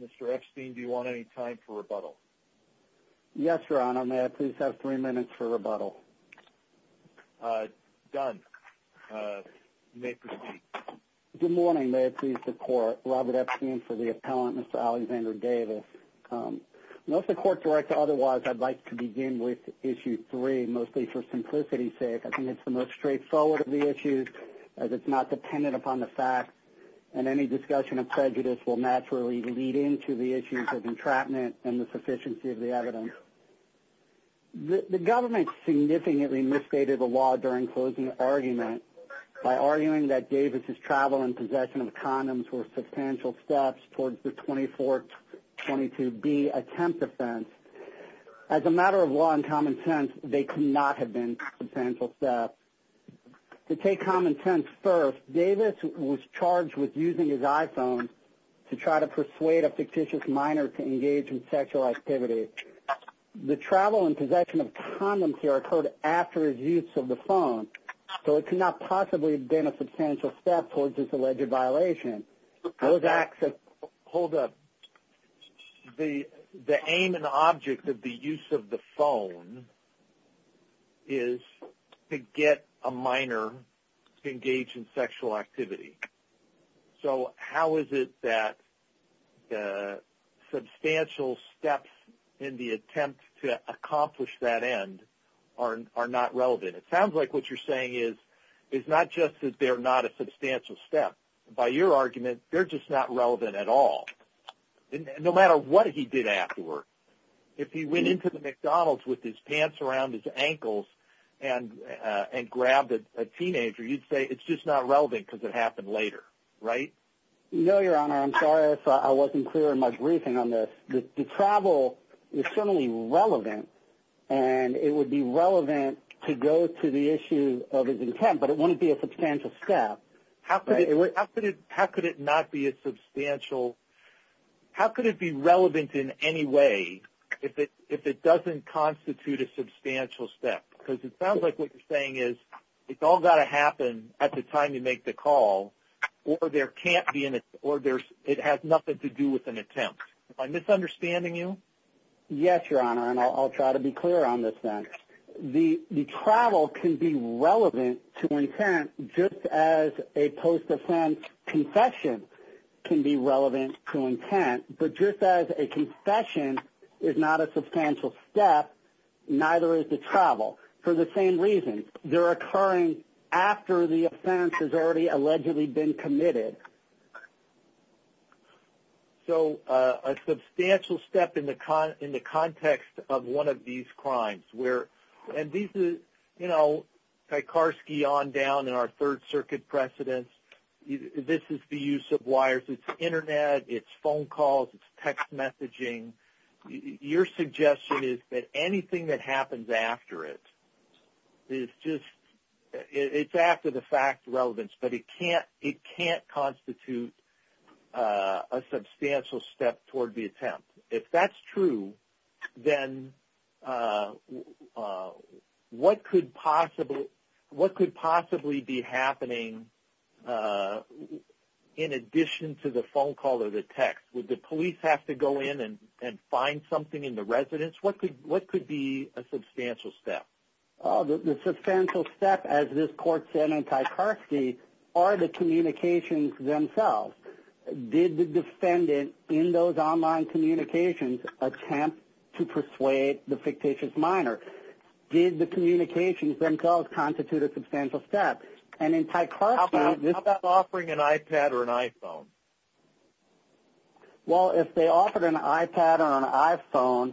Mr. Epstein, do you want any time for rebuttal? Yes, Your Honor. May I please have three minutes for rebuttal? Done. You may proceed. Good morning. May I please the Court? Robert Epstein for the Appellant, Mr. Alexander Davis. Unless the Court directs otherwise, I'd like to begin with Issue 3, mostly for simplicity's sake. I think it's the most straightforward of the issues, as it's not dependent upon the facts, and any discussion of prejudice will naturally lead into the issues of entrapment and the sufficiency of the evidence. The government significantly misstated the law during closing argument by arguing that Davis' travel and possession of condoms were substantial steps towards the 2422B attempt offense. As a matter of law and common sense, they could not have been substantial steps. To take common sense first, Davis was charged with using his iPhone to try to persuade a fictitious minor to engage in sexual activity. The travel and possession of condoms here occurred after his use of the phone, so it could not possibly have been a substantial step towards this alleged violation. Hold up. The aim and object of the use of the phone is to get a minor to engage in sexual activity. So how is it that substantial steps in the attempt to accomplish that end are not relevant? It sounds like what you're saying is not just that they're not a substantial step. By your argument, they're just not relevant at all, no matter what he did afterward. If he went into the McDonald's with his pants around his ankles and grabbed a teenager, you'd say it's just not relevant because it happened later, right? No, Your Honor. I'm sorry if I wasn't clear in my briefing on this. The travel is certainly relevant, and it would be relevant to go to the issue of his attempt, but it wouldn't be a substantial step, right? How could it not be a substantial – how could it be relevant in any way if it doesn't constitute a substantial step? Because it sounds like what you're saying is it's all got to happen at the time you make the call, or it has nothing to do with an attempt. Am I misunderstanding you? Yes, Your Honor, and I'll try to be clear on this then. The travel can be relevant to intent just as a post-offense confession can be relevant to intent, but just as a confession is not a substantial step, neither is the travel, for the same reason. They're occurring after the offense has already allegedly been committed. So a substantial step in the context of one of these crimes where – and this is, you know, Tarkarski on down in our Third Circuit precedents. This is the use of wires. It's Internet, it's phone calls, it's text messaging. Your suggestion is that anything that happens after it is just – it's after the fact relevance, but it can't constitute a substantial step toward the attempt. If that's true, then what could possibly be happening in addition to the phone call or the text? Would the police have to go in and find something in the residence? What could be a substantial step? The substantial step, as this court said in Tarkarski, are the communications themselves. Did the defendant in those online communications attempt to persuade the fictitious minor? Did the communications themselves constitute a substantial step? And in Tarkarski – How about offering an iPad or an iPhone? Well, if they offered an iPad or an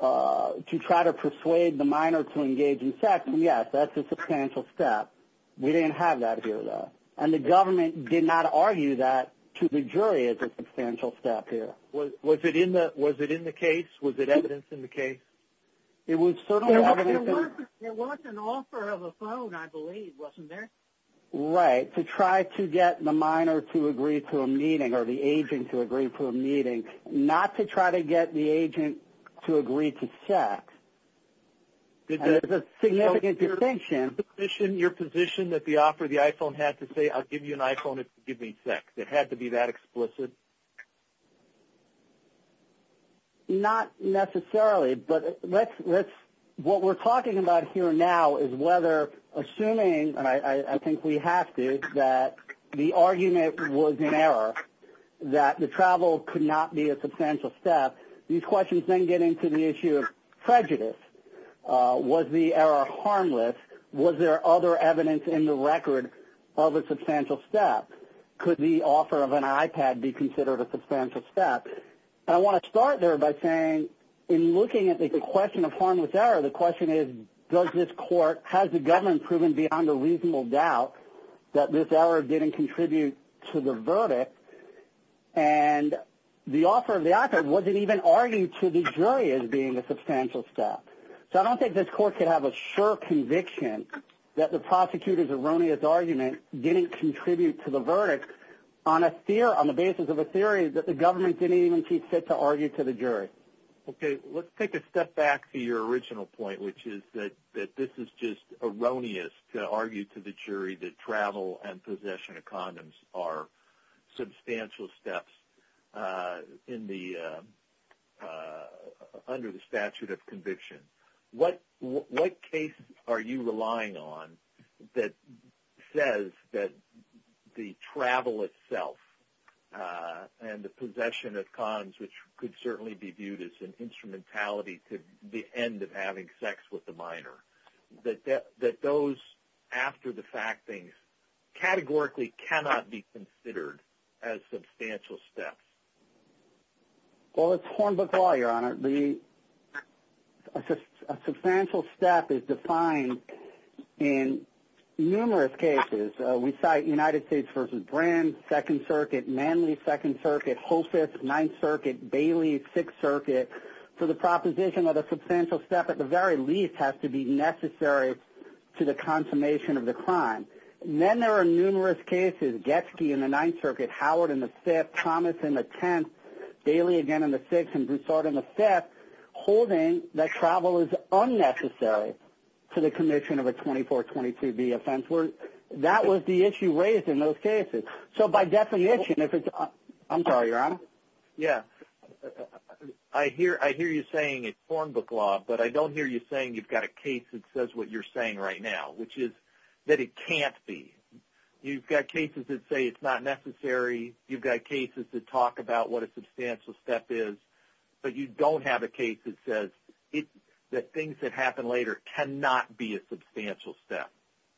iPhone to try to persuade the minor to engage in sex, yes, that's a substantial step. We didn't have that here, though. And the government did not argue that to the jury as a substantial step here. Was it in the case? Was it evidence in the case? It was certainly evidence in the case. There was an offer of a phone, I believe, wasn't there? Right, to try to get the minor to agree to a meeting or the agent to agree to a meeting, not to try to get the agent to agree to sex. It's a significant distinction. Your position that the offer of the iPhone had to say, I'll give you an iPhone if you give me sex, it had to be that explicit? Not necessarily. But what we're talking about here now is whether, assuming – and I think we have to – that the argument was in error, that the travel could not be a substantial step. These questions then get into the issue of prejudice. Was the error harmless? Was there other evidence in the record of a substantial step? Could the offer of an iPad be considered a substantial step? I want to start there by saying, in looking at the question of harmless error, the question is, does this court – has the government proven beyond a reasonable doubt that this error didn't contribute to the verdict? And the offer of the iPad, was it even argued to the jury as being a substantial step? So I don't think this court could have a sure conviction that the prosecutor's erroneous argument didn't contribute to the verdict on the basis of a theory that the government didn't even keep fit to argue to the jury. Okay. Let's take a step back to your original point, which is that this is just erroneous to argue to the jury that travel and possession of condoms are substantial steps under the statute of conviction. What case are you relying on that says that the travel itself and the possession of condoms, which could certainly be viewed as an instrumentality to the end of having sex with a minor, that those after the fact things categorically cannot be considered as substantial steps? Well, it's Hornbook Law, Your Honor. The – a substantial step is defined in numerous cases. We cite United States v. Brins, Second Circuit, Manly, Second Circuit, Hoffice, Ninth Circuit, Bailey, Sixth Circuit. So the proposition of a substantial step, at the very least, has to be necessary to the confirmation of the crime. Then there are numerous cases, Getsky in the Ninth Circuit, Howard in the Fifth, Thomas in the Tenth, Bailey again in the Sixth, and Broussard in the Fifth, holding that travel is unnecessary to the commission of a 2422B offense. That was the issue raised in those cases. So by definition, if it's – I'm sorry, Your Honor. Yeah. I hear you saying it's Hornbook Law, but I don't hear you saying you've got a case that says what you're saying right now, which is that it can't be. You've got cases that say it's not necessary. You've got cases that talk about what a substantial step is. But you don't have a case that says that things that happen later cannot be a substantial step.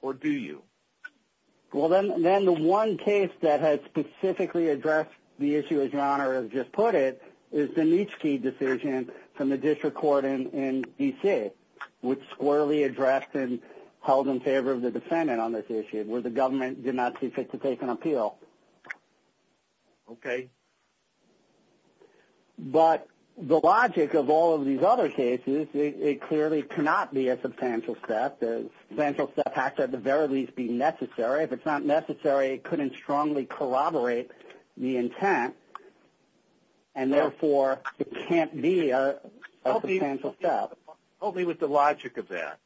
Or do you? Well, then the one case that has specifically addressed the issue, as Your Honor has just put it, is the Neitzche decision from the district court in D.C., which squarely addressed and held in favor of the defendant on this issue, where the government did not see fit to take an appeal. Okay. But the logic of all of these other cases, it clearly cannot be a substantial step. The substantial step has to at the very least be necessary. If it's not necessary, it couldn't strongly corroborate the intent, and therefore it can't be a substantial step. Help me with the logic of that.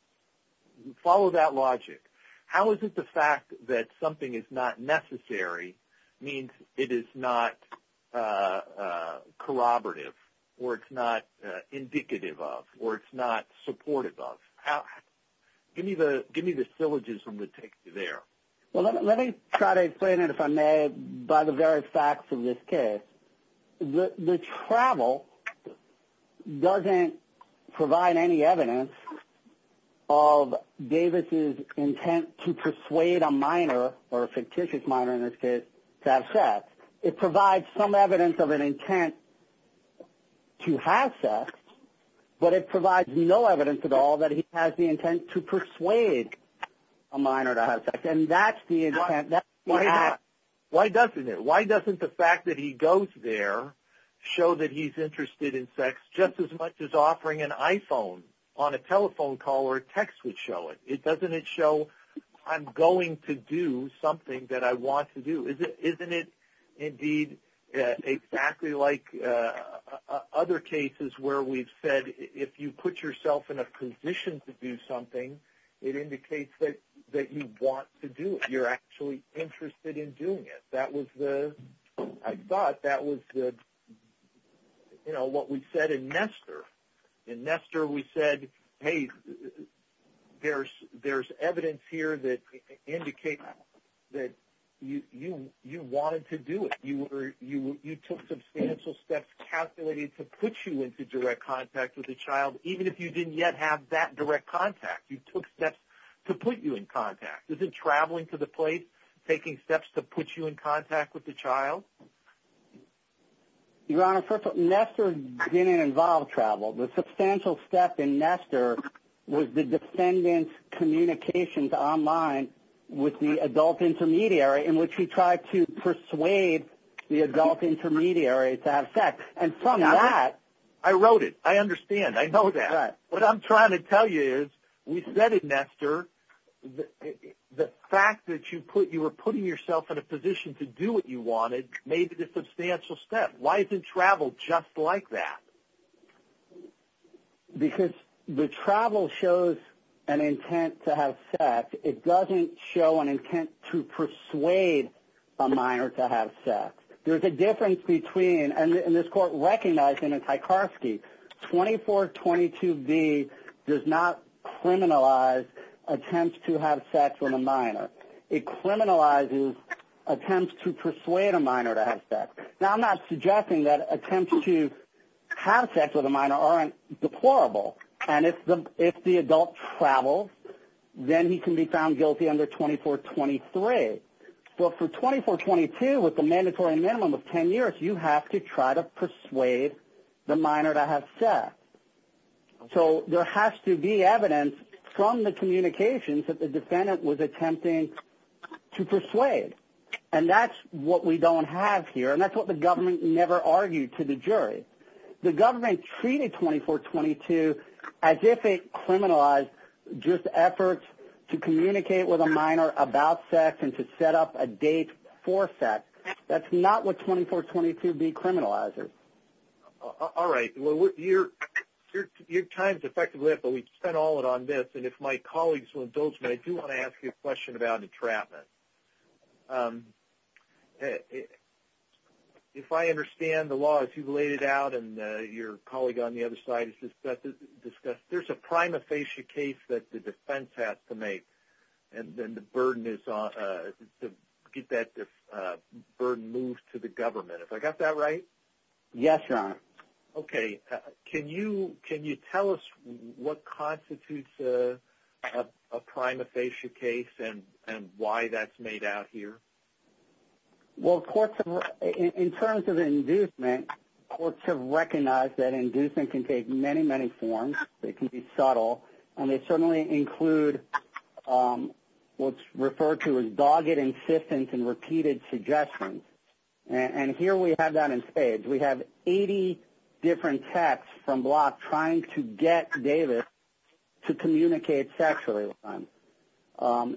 Follow that logic. How is it the fact that something is not necessary means it is not corroborative or it's not indicative of or it's not supportive of? Give me the syllogism that takes you there. Well, let me try to explain it, if I may, by the very facts of this case. The travel doesn't provide any evidence of Davis' intent to persuade a minor, or a fictitious minor in this case, to have sex. It provides some evidence of an intent to have sex, but it provides no evidence at all that he has the intent to persuade a minor to have sex, and that's the intent. Why not? Why doesn't it? Doesn't the fact that he goes there show that he's interested in sex just as much as offering an iPhone on a telephone call or a text would show it? Doesn't it show I'm going to do something that I want to do? Isn't it indeed exactly like other cases where we've said if you put yourself in a position to do something, it indicates that you want to do it, you're actually interested in doing it. I thought that was what we said in Nestor. In Nestor we said, hey, there's evidence here that indicates that you wanted to do it. You took substantial steps calculated to put you into direct contact with a child, even if you didn't yet have that direct contact. You took steps to put you in contact. Isn't traveling to the place taking steps to put you in contact with the child? Your Honor, Nestor didn't involve travel. The substantial step in Nestor was the defendant's communications online with the adult intermediary in which he tried to persuade the adult intermediary to have sex. I wrote it. I understand. I know that. What I'm trying to tell you is we said in Nestor the fact that you were putting yourself in a position to do what you wanted made it a substantial step. Why isn't travel just like that? Because the travel shows an intent to have sex. It doesn't show an intent to persuade a minor to have sex. There's a difference between, and this Court recognized him in Tarkovsky, 2422B does not criminalize attempts to have sex with a minor. It criminalizes attempts to persuade a minor to have sex. Now, I'm not suggesting that attempts to have sex with a minor aren't deplorable. And if the adult travels, then he can be found guilty under 2423. But for 2422 with the mandatory minimum of 10 years, you have to try to persuade the minor to have sex. So there has to be evidence from the communications that the defendant was attempting to persuade. And that's what we don't have here, and that's what the government never argued to the jury. The government treated 2422 as if it criminalized just efforts to communicate with a minor about sex and to set up a date for sex. That's not what 2422B criminalizes. All right. Well, your time is effectively up, but we spent all it on this. And if my colleagues will indulge me, I do want to ask you a question about entrapment. If I understand the law as you laid it out and your colleague on the other side has discussed, there's a prima facie case that the defense has to make, and then the burden is to get that burden moved to the government. Have I got that right? Yes, sir. Okay. Can you tell us what constitutes a prima facie case and why that's made out here? Well, in terms of inducement, courts have recognized that inducement can take many, many forms. It can be subtle, and they certainly include what's referred to as dogged insistence and repeated suggestions. And here we have that in spades. We have 80 different texts from Block trying to get Davis to communicate sexually with them.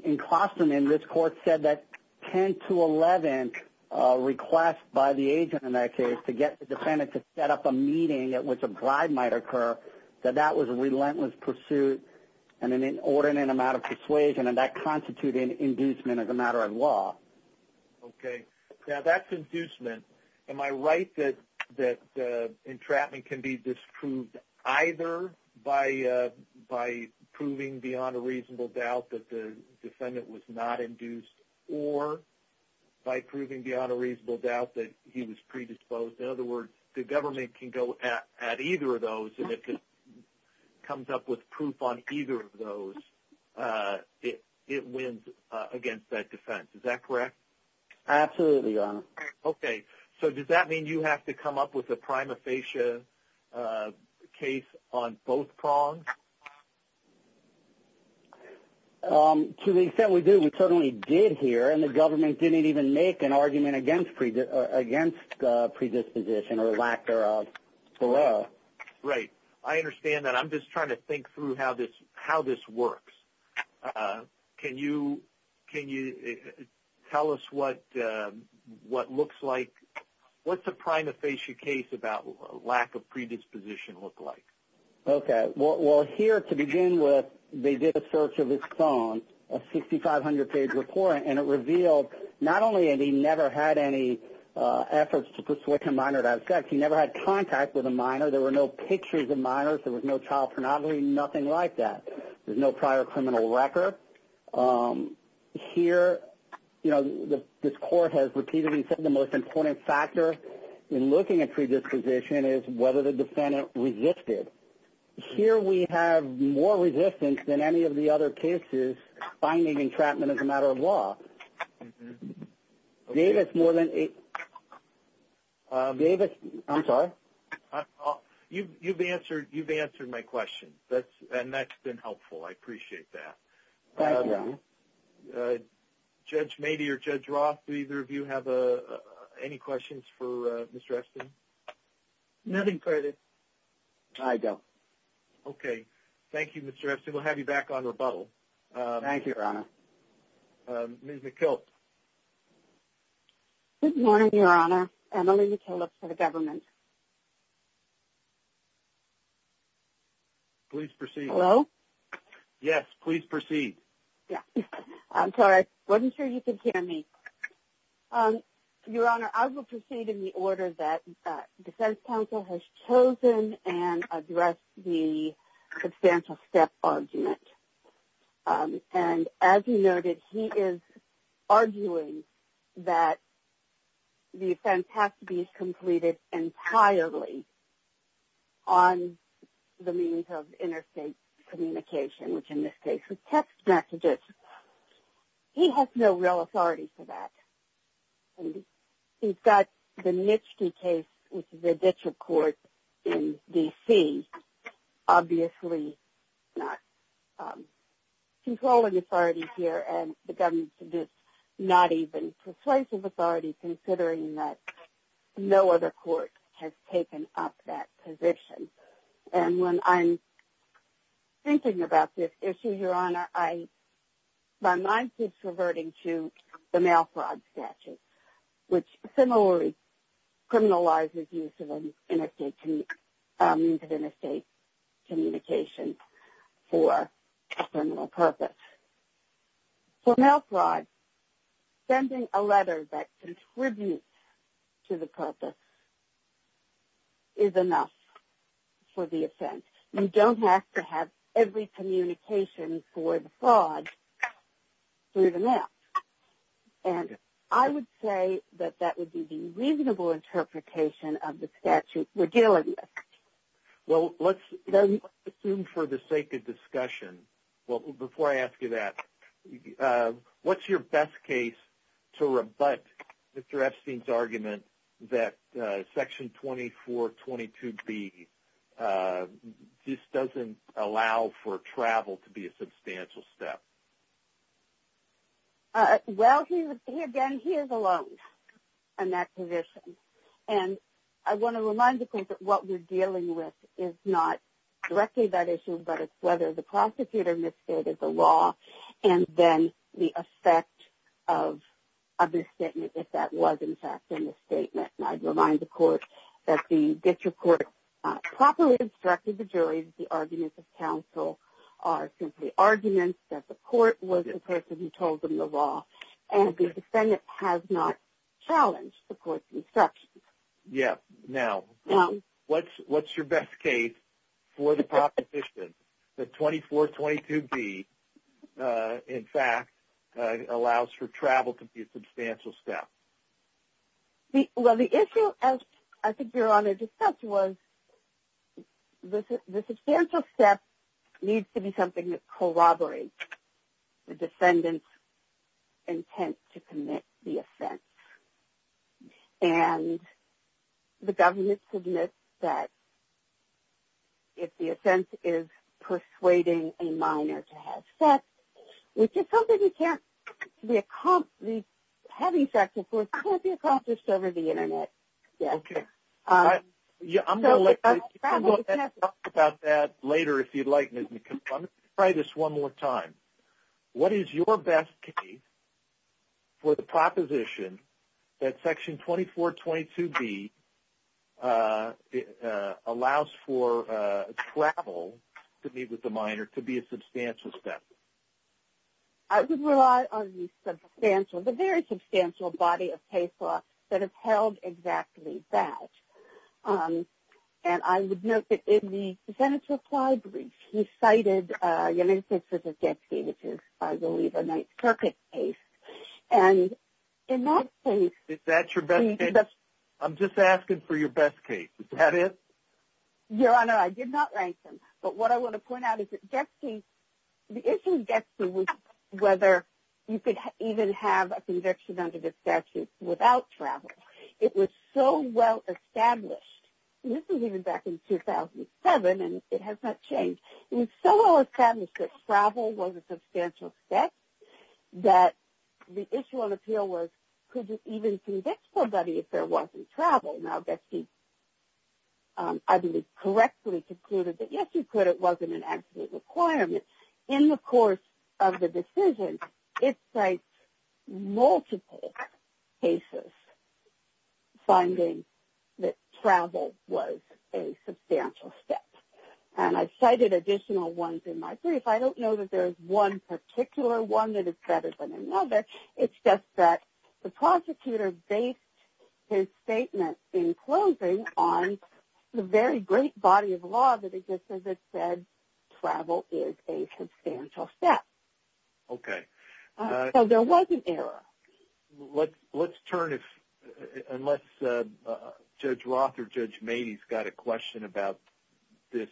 In Croston, this court said that 10 to 11 request by the agent in that case to get the defendant to set up a meeting at which a bribe might occur, that that was a relentless pursuit and an inordinate amount of persuasion, and that constituted inducement as a matter of law. Okay. Now, that's inducement. Am I right that entrapment can be disproved either by proving beyond a reasonable doubt that the defendant was not induced or by proving beyond a reasonable doubt that he was predisposed? In other words, the government can go at either of those, and if it comes up with proof on either of those, it wins against that defense. Is that correct? Absolutely, Your Honor. Okay. So does that mean you have to come up with a prima facie case on both prongs? To the extent we do, we certainly did here, and the government didn't even make an argument against predisposition or lack thereof. Right. I understand that. I'm just trying to think through how this works. Can you tell us what looks like? What's a prima facie case about lack of predisposition look like? Okay. Well, here to begin with, they did a search of his phone, a 6,500-page report, and it revealed not only that he never had any efforts to persuade a minor to have sex, he never had contact with a minor. There were no pictures of minors. There was no child pornography, nothing like that. There's no prior criminal record. Here, you know, this Court has repeatedly said the most important factor in looking at predisposition is whether the defendant resisted. Here we have more resistance than any of the other cases finding entrapment as a matter of law. Davis, more than eight – Davis, I'm sorry. You've answered my question, and that's been helpful. I appreciate that. Thank you, Your Honor. Judge Mady or Judge Roth, do either of you have any questions for Ms. Dresden? Nothing, credit. I don't. Okay. Thank you, Ms. Dresden. We'll have you back on rebuttal. Thank you, Your Honor. Ms. McKilt. Good morning, Your Honor. I'm Emily McKilt for the government. Please proceed. Hello? Yes, please proceed. Yes. I'm sorry. I wasn't sure you could hear me. Your Honor, I will proceed in the order that the defense counsel has chosen and addressed the substantial step argument. And as you noted, he is arguing that the offense has to be completed entirely on the means of interstate communication, which in this case is text messages. He has no real authority for that. He's got the Nishty case, which is a district court in D.C., obviously not controlling authority here, and the government's not even persuasive authority considering that no other court has taken up that position. And when I'm thinking about this issue, Your Honor, my mind keeps reverting to the mail fraud statute, which similarly criminalizes use of interstate communication for a criminal purpose. For mail fraud, sending a letter that contributes to the purpose is enough for the offense. You don't have to have every communication for the fraud through the mail. And I would say that that would be the reasonable interpretation of the statute we're dealing with. Well, let's assume for the sake of discussion, well, before I ask you that, what's your best case to rebut Mr. Epstein's argument that Section 2422B just doesn't allow for travel to be a substantial step? Well, again, he is alone in that position. And I want to remind the court that what we're dealing with is not directly that issue, but it's whether the prosecutor misstated the law and then the effect of a misstatement, if that was in fact a misstatement. And I'd remind the court that the district court properly instructed the jury, the arguments of counsel are simply arguments that the court was the person who told them the law, and the defendant has not challenged the court's instructions. Yeah. Now, what's your best case for the proposition that 2422B, in fact, allows for travel to be a substantial step? Well, the issue, as I think we were on a discussion, was the substantial step needs to be something that corroborates the defendant's intent to commit the offense. And the government admits that if the offense is persuading a minor to have sex, which is something you can't be accomplished over the Internet. Okay. I'm going to let you talk about that later if you'd like. Let me try this one more time. What is your best case for the proposition that Section 2422B allows for travel to meet with the minor to be a substantial step? I would rely on the substantial, the very substantial body of paper that has held exactly that. And I would note that in the defendant's reply brief, he cited your name, since it's a death case, which is, I believe, a Ninth Circuit case. And in that case – Is that your best case? I'm just asking for your best case. Is that it? Your Honor, I did not rank them. But what I want to point out is that the issue gets to whether you could even have a conviction under the statute without travel. It was so well established, and this is even back in 2007 and it has not changed, it was so well established that travel was a substantial step that the issue on appeal was, could you even convict somebody if there wasn't travel? Now, Betsy, I believe, correctly concluded that, yes, you could. It wasn't an absolute requirement. In the course of the decision, it cites multiple cases finding that travel was a substantial step. And I've cited additional ones in my brief. I don't know that there's one particular one that is better than another. It's just that the prosecutor based his statement in closing on the very great body of law that, as it says, travel is a substantial step. Okay. So there was an error. Let's turn, unless Judge Roth or Judge Maney's got a question about this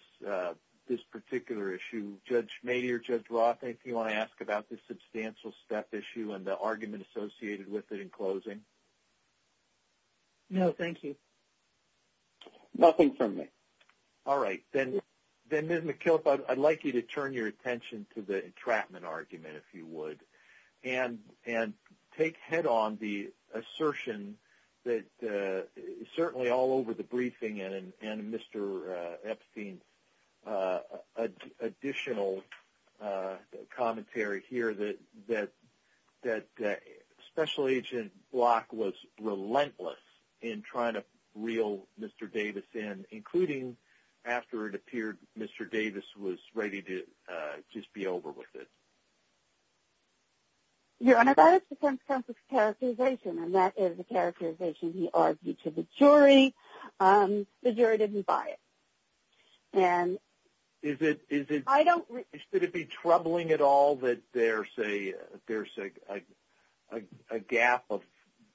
particular issue. Judge Maney or Judge Roth, anything you want to ask about this substantial step issue and the argument associated with it in closing? No, thank you. Nothing from me. All right. Then, Ms. McKilp, I'd like you to turn your attention to the entrapment argument, if you would, and take head on the assertion that certainly all over the briefing and Mr. Epstein's additional commentary here that Special Agent Block was relentless in trying to reel Mr. Davis in, including after it appeared Mr. Davis was ready to just be over with it. Your Honor, that is the consequence of characterization, and that is the characterization he argued to the jury. The jury didn't buy it. Did it be troubling at all that there's a gap of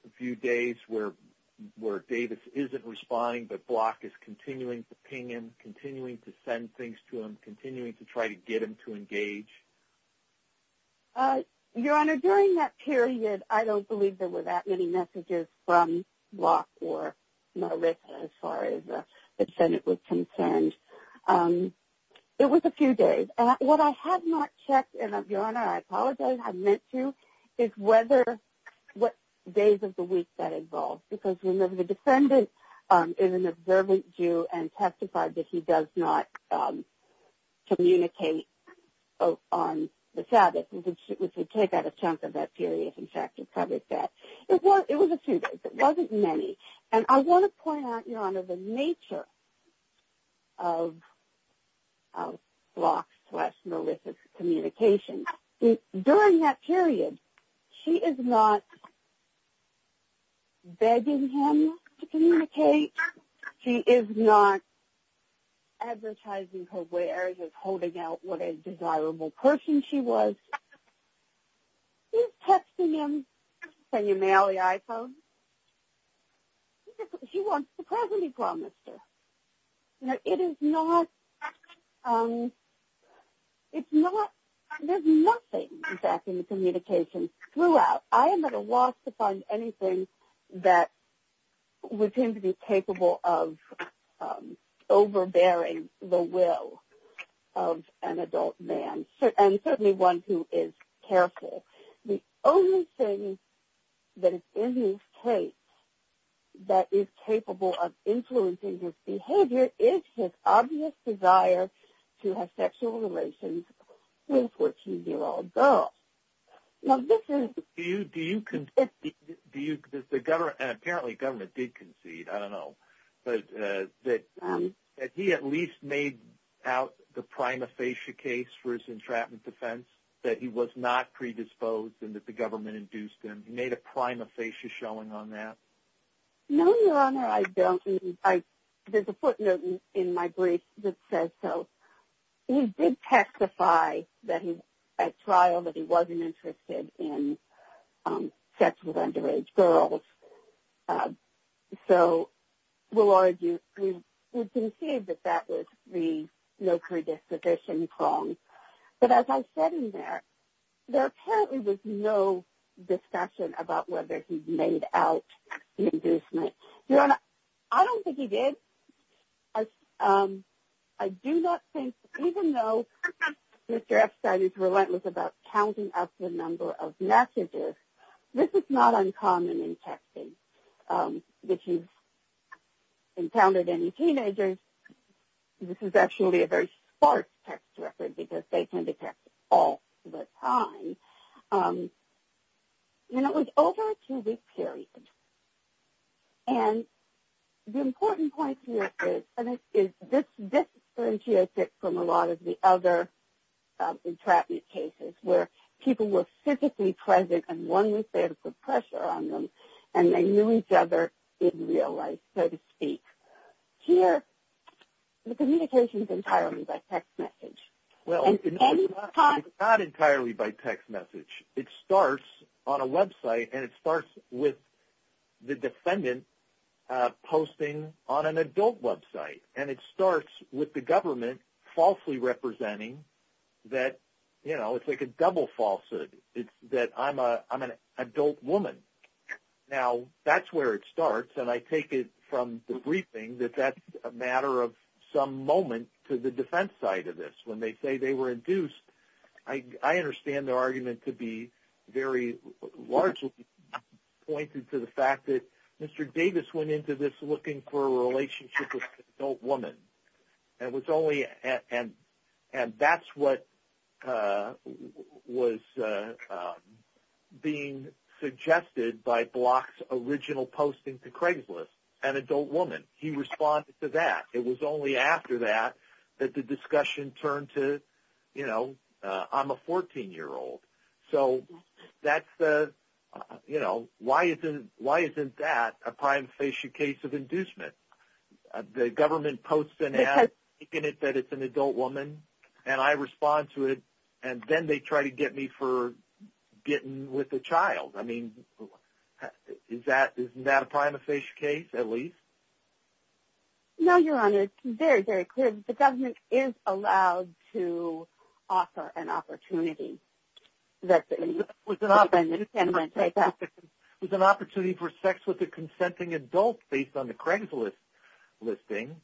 a few days where Davis isn't responding but Block is continuing to ping him, continuing to send things to him, continuing to try to get him to engage? Your Honor, during that period, I don't believe there were that many messages from Block or Marissa, as far as the defendant was concerned. It was a few days. What I had not checked, and, Your Honor, I apologize, I meant to, is what days of the week that involved, because, remember, the defendant is an observant Jew and testified that he does not communicate on the Sabbath, which would take out a chunk of that period, in fact, to cover that. It was a few days. It wasn't many. And I want to point out, Your Honor, the nature of Block's plus Marissa's communication. During that period, she is not begging him to communicate. She is not advertising her wares or holding out what a desirable person she was. She's texting him, can you mail the iPhone? She wants the present he promised her. You know, it is not, it's not, there's nothing, in fact, in the communication throughout. I am at a loss to find anything that would seem to be capable of overbearing the will of an adult man, and certainly one who is careful. The only thing that is in his case that is capable of influencing his behavior is his obvious desire to have sexual relations with 14-year-old girls. Now, this is- Do you concede, and apparently government did concede, I don't know, that he at least made out the prima facie case for his entrapment defense, that he was not predisposed and that the government induced him? He made a prima facie showing on that? No, Your Honor, I don't. There's a footnote in my brief that says so. He did testify at trial that he wasn't interested in sex with underage girls. So we'll argue, we concede that that was the no predisposition wrong. But as I said in there, there apparently was no discussion about whether he made out the inducement. Your Honor, I don't think he did. I do not think, even though Mr. Epstein is relentless about counting up the number of messages, this is not uncommon in texting. If you've encountered any teenagers, this is actually a very sparse text record because they tend to text all the time. And it was over a two-week period. And the important point here is this differentiates it from a lot of the other entrapment cases where people were physically present and one was there to put pressure on them and they knew each other in real life, so to speak. Here, the communication is entirely by text message. It's not entirely by text message. It starts on a website and it starts with the defendant posting on an adult website. And it starts with the government falsely representing that, you know, it's like a double falsehood, that I'm an adult woman. Now, that's where it starts. And I take it from the briefing that that's a matter of some moment to the defense side of this. When they say they were induced, I understand their argument to be very largely pointed to the fact that Mr. Davis went into this looking for a relationship with an adult woman. And that's what was being suggested by Block's original posting to Craigslist, an adult woman. He responded to that. It was only after that that the discussion turned to, you know, I'm a 14-year-old. So that's the, you know, why isn't that a prima facie case of inducement? The government posts and has taken it that it's an adult woman, and I respond to it, and then they try to get me for getting with a child. I mean, isn't that a prima facie case at least? No, Your Honor. It's very, very clear that the government is allowed to offer an opportunity. It was an opportunity for sex with a consenting adult based on the Craigslist listing.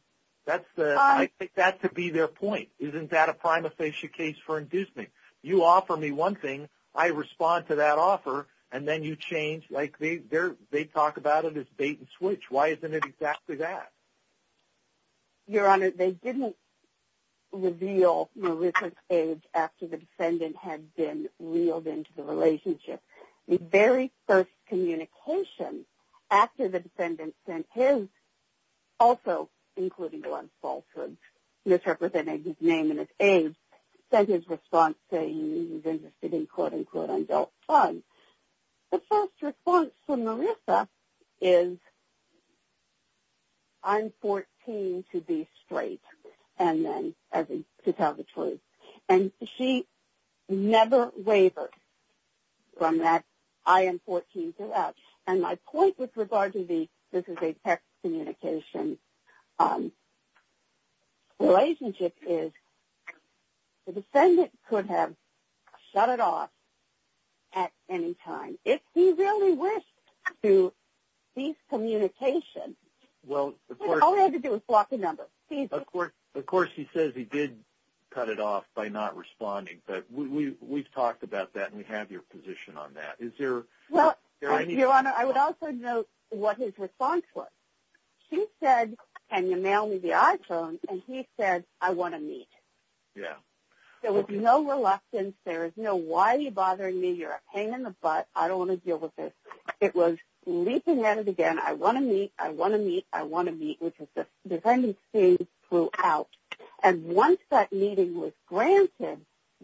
I take that to be their point. Isn't that a prima facie case for inducement? You offer me one thing, I respond to that offer, and then you change. Like they talk about it as bait and switch. Why isn't it exactly that? Your Honor, they didn't reveal Marissa's age after the defendant had been reeled into the relationship. The very first communication after the defendant sent his, also including one falsehood, misrepresenting his name and his age, sent his response saying he was interested in quote-unquote adult fun. The first response from Marissa is, I'm 14 to be straight, and then to tell the truth. And she never wavers from that, I am 14 to that. And my point with regard to the, this is a text communication relationship, is the defendant could have shut it off at any time. If he really wished to cease communication, all he had to do was block the number. Of course he says he did cut it off by not responding, but we've talked about that and we have your position on that. Your Honor, I would also note what his response was. He said, can you mail me the iPhone, and he said, I want to meet. There was no reluctance. There was no, why are you bothering me, you're a pain in the butt, I don't want to deal with this. It was leaping at it again, I want to meet, I want to meet, I want to meet, which the defendant's feelings flew out. And once that meeting was granted,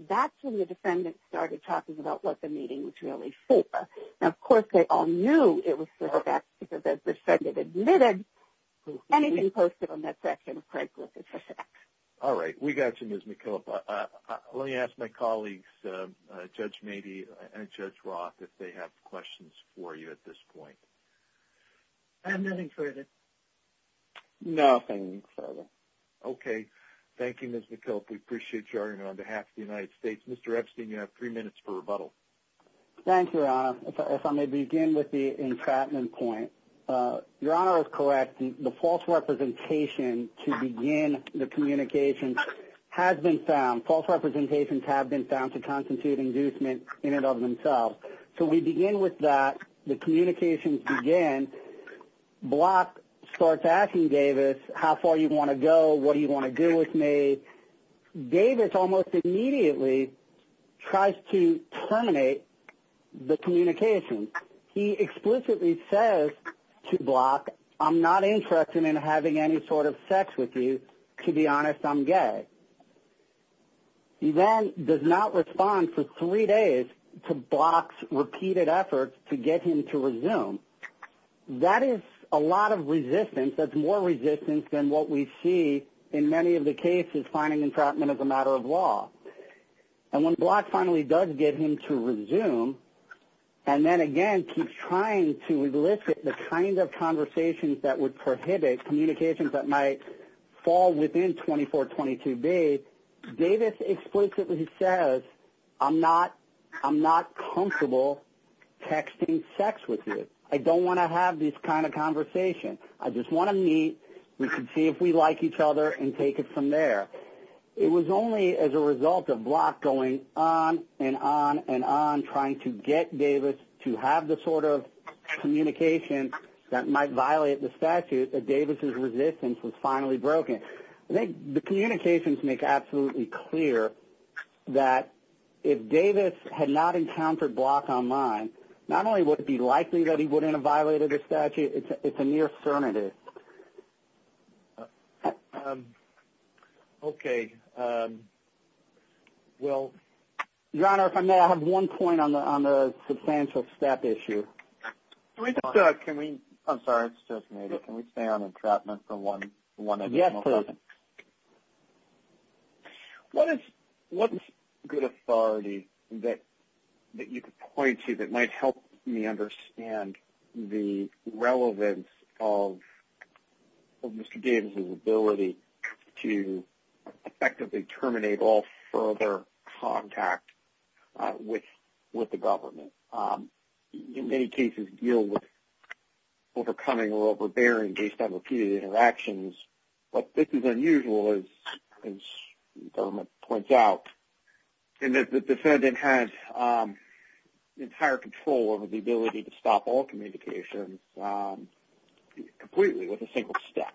that's when the defendant started talking about what the meeting was really for. Now, of course, they all knew it was for her back because the defendant admitted. Anything posted on that section of Craigslist is a fact. All right. We got you, Ms. McKillop. Let me ask my colleagues, Judge Mady and Judge Roth, if they have questions for you at this point. I have nothing further. Nothing further. Okay. Thank you, Ms. McKillop. We appreciate you, Your Honor. On behalf of the United States, Mr. Epstein, you have three minutes for rebuttal. Thank you, Your Honor. If I may begin with the entrapment point. Your Honor is correct. The false representation to begin the communication has been found. False representations have been found to constitute inducement in and of themselves. So we begin with that. The communications begin. Block starts asking Davis how far you want to go, what do you want to do with me. Davis almost immediately tries to terminate the communication. He explicitly says to Block, I'm not interested in having any sort of sex with you. To be honest, I'm gay. He then does not respond for three days to Block's repeated efforts to get him to resume. That is a lot of resistance. That's more resistance than what we see in many of the cases finding entrapment as a matter of law. And when Block finally does get him to resume and then, again, keeps trying to elicit the kind of conversations that would prohibit communications that might fall within 2422B, Davis explicitly says, I'm not comfortable texting sex with you. I don't want to have this kind of conversation. I just want to meet. We can see if we like each other and take it from there. It was only as a result of Block going on and on and on trying to get Davis to have the sort of communication that might violate the statute that Davis's resistance was finally broken. I think the communications make absolutely clear that if Davis had not encountered Block online, not only would it be likely that he wouldn't have violated the statute, it's a near certainty. Okay. Well, Your Honor, if I may, I have one point on the substantial step issue. I'm sorry, it's just me. Can we stay on entrapment for one additional question? Yes, please. What is good authority that you could point to that might help me understand the relevance of Mr. Davis's ability to effectively terminate all further contact with the government? Many cases deal with overcoming or overbearing based on repeated interactions. But this is unusual, as the government points out, in that the defendant has entire control over the ability to stop all communications completely with a single step.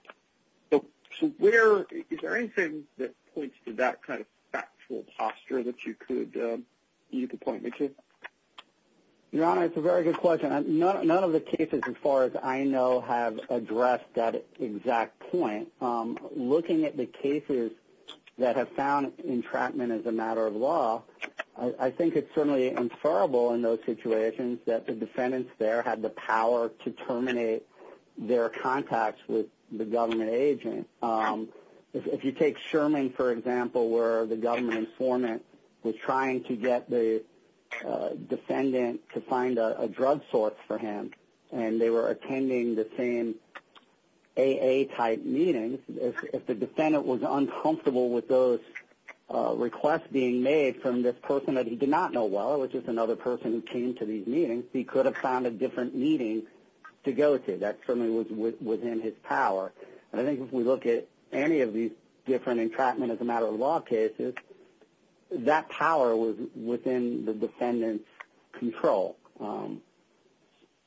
Is there anything that points to that kind of factual posture that you could point me to? Your Honor, it's a very good question. None of the cases, as far as I know, have addressed that exact point. Looking at the cases that have found entrapment as a matter of law, I think it's certainly inferrable in those situations that the defendants there had the power to terminate their contacts with the government agent. If you take Sherman, for example, where the government informant was trying to get the defendant to find a drug source for him, and they were attending the same AA-type meeting, if the defendant was uncomfortable with those requests being made from this person that he did not know well, which is another person who came to these meetings, he could have found a different meeting to go to. That certainly was within his power. And I think if we look at any of these different entrapment-as-a-matter-of-law cases, that power was within the defendant's control.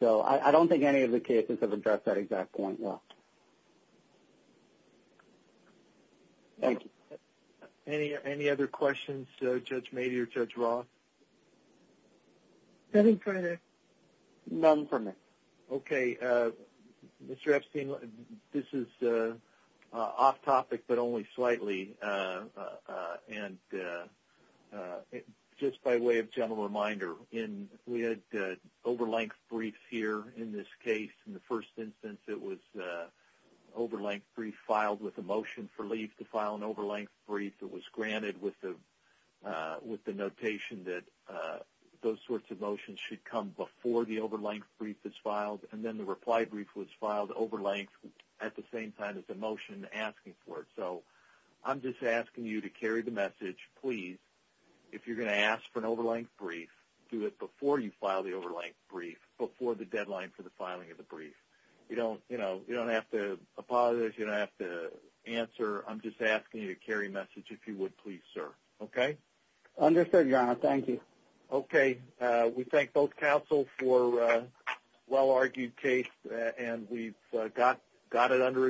So I don't think any of the cases have addressed that exact point well. Thank you. Any other questions, Judge Mady or Judge Roth? Nothing further. None for me. Okay. Mr. Epstein, this is off-topic but only slightly, and just by way of general reminder, we had over-length briefs here in this case. In the first instance, it was over-length brief filed with a motion for leave to file an over-length brief. It was granted with the notation that those sorts of motions should come before the over-length brief is filed, and then the reply brief was filed over-length at the same time as the motion asking for it. So I'm just asking you to carry the message, please, if you're going to ask for an over-length brief, do it before you file the over-length brief, before the deadline for the filing of the brief. You don't have to apologize. You don't have to answer. I'm just asking you to carry the message, if you would, please, sir. Okay? Understood, Your Honor. Thank you. Okay. We thank both counsel for a well-argued case, and we've got it under review.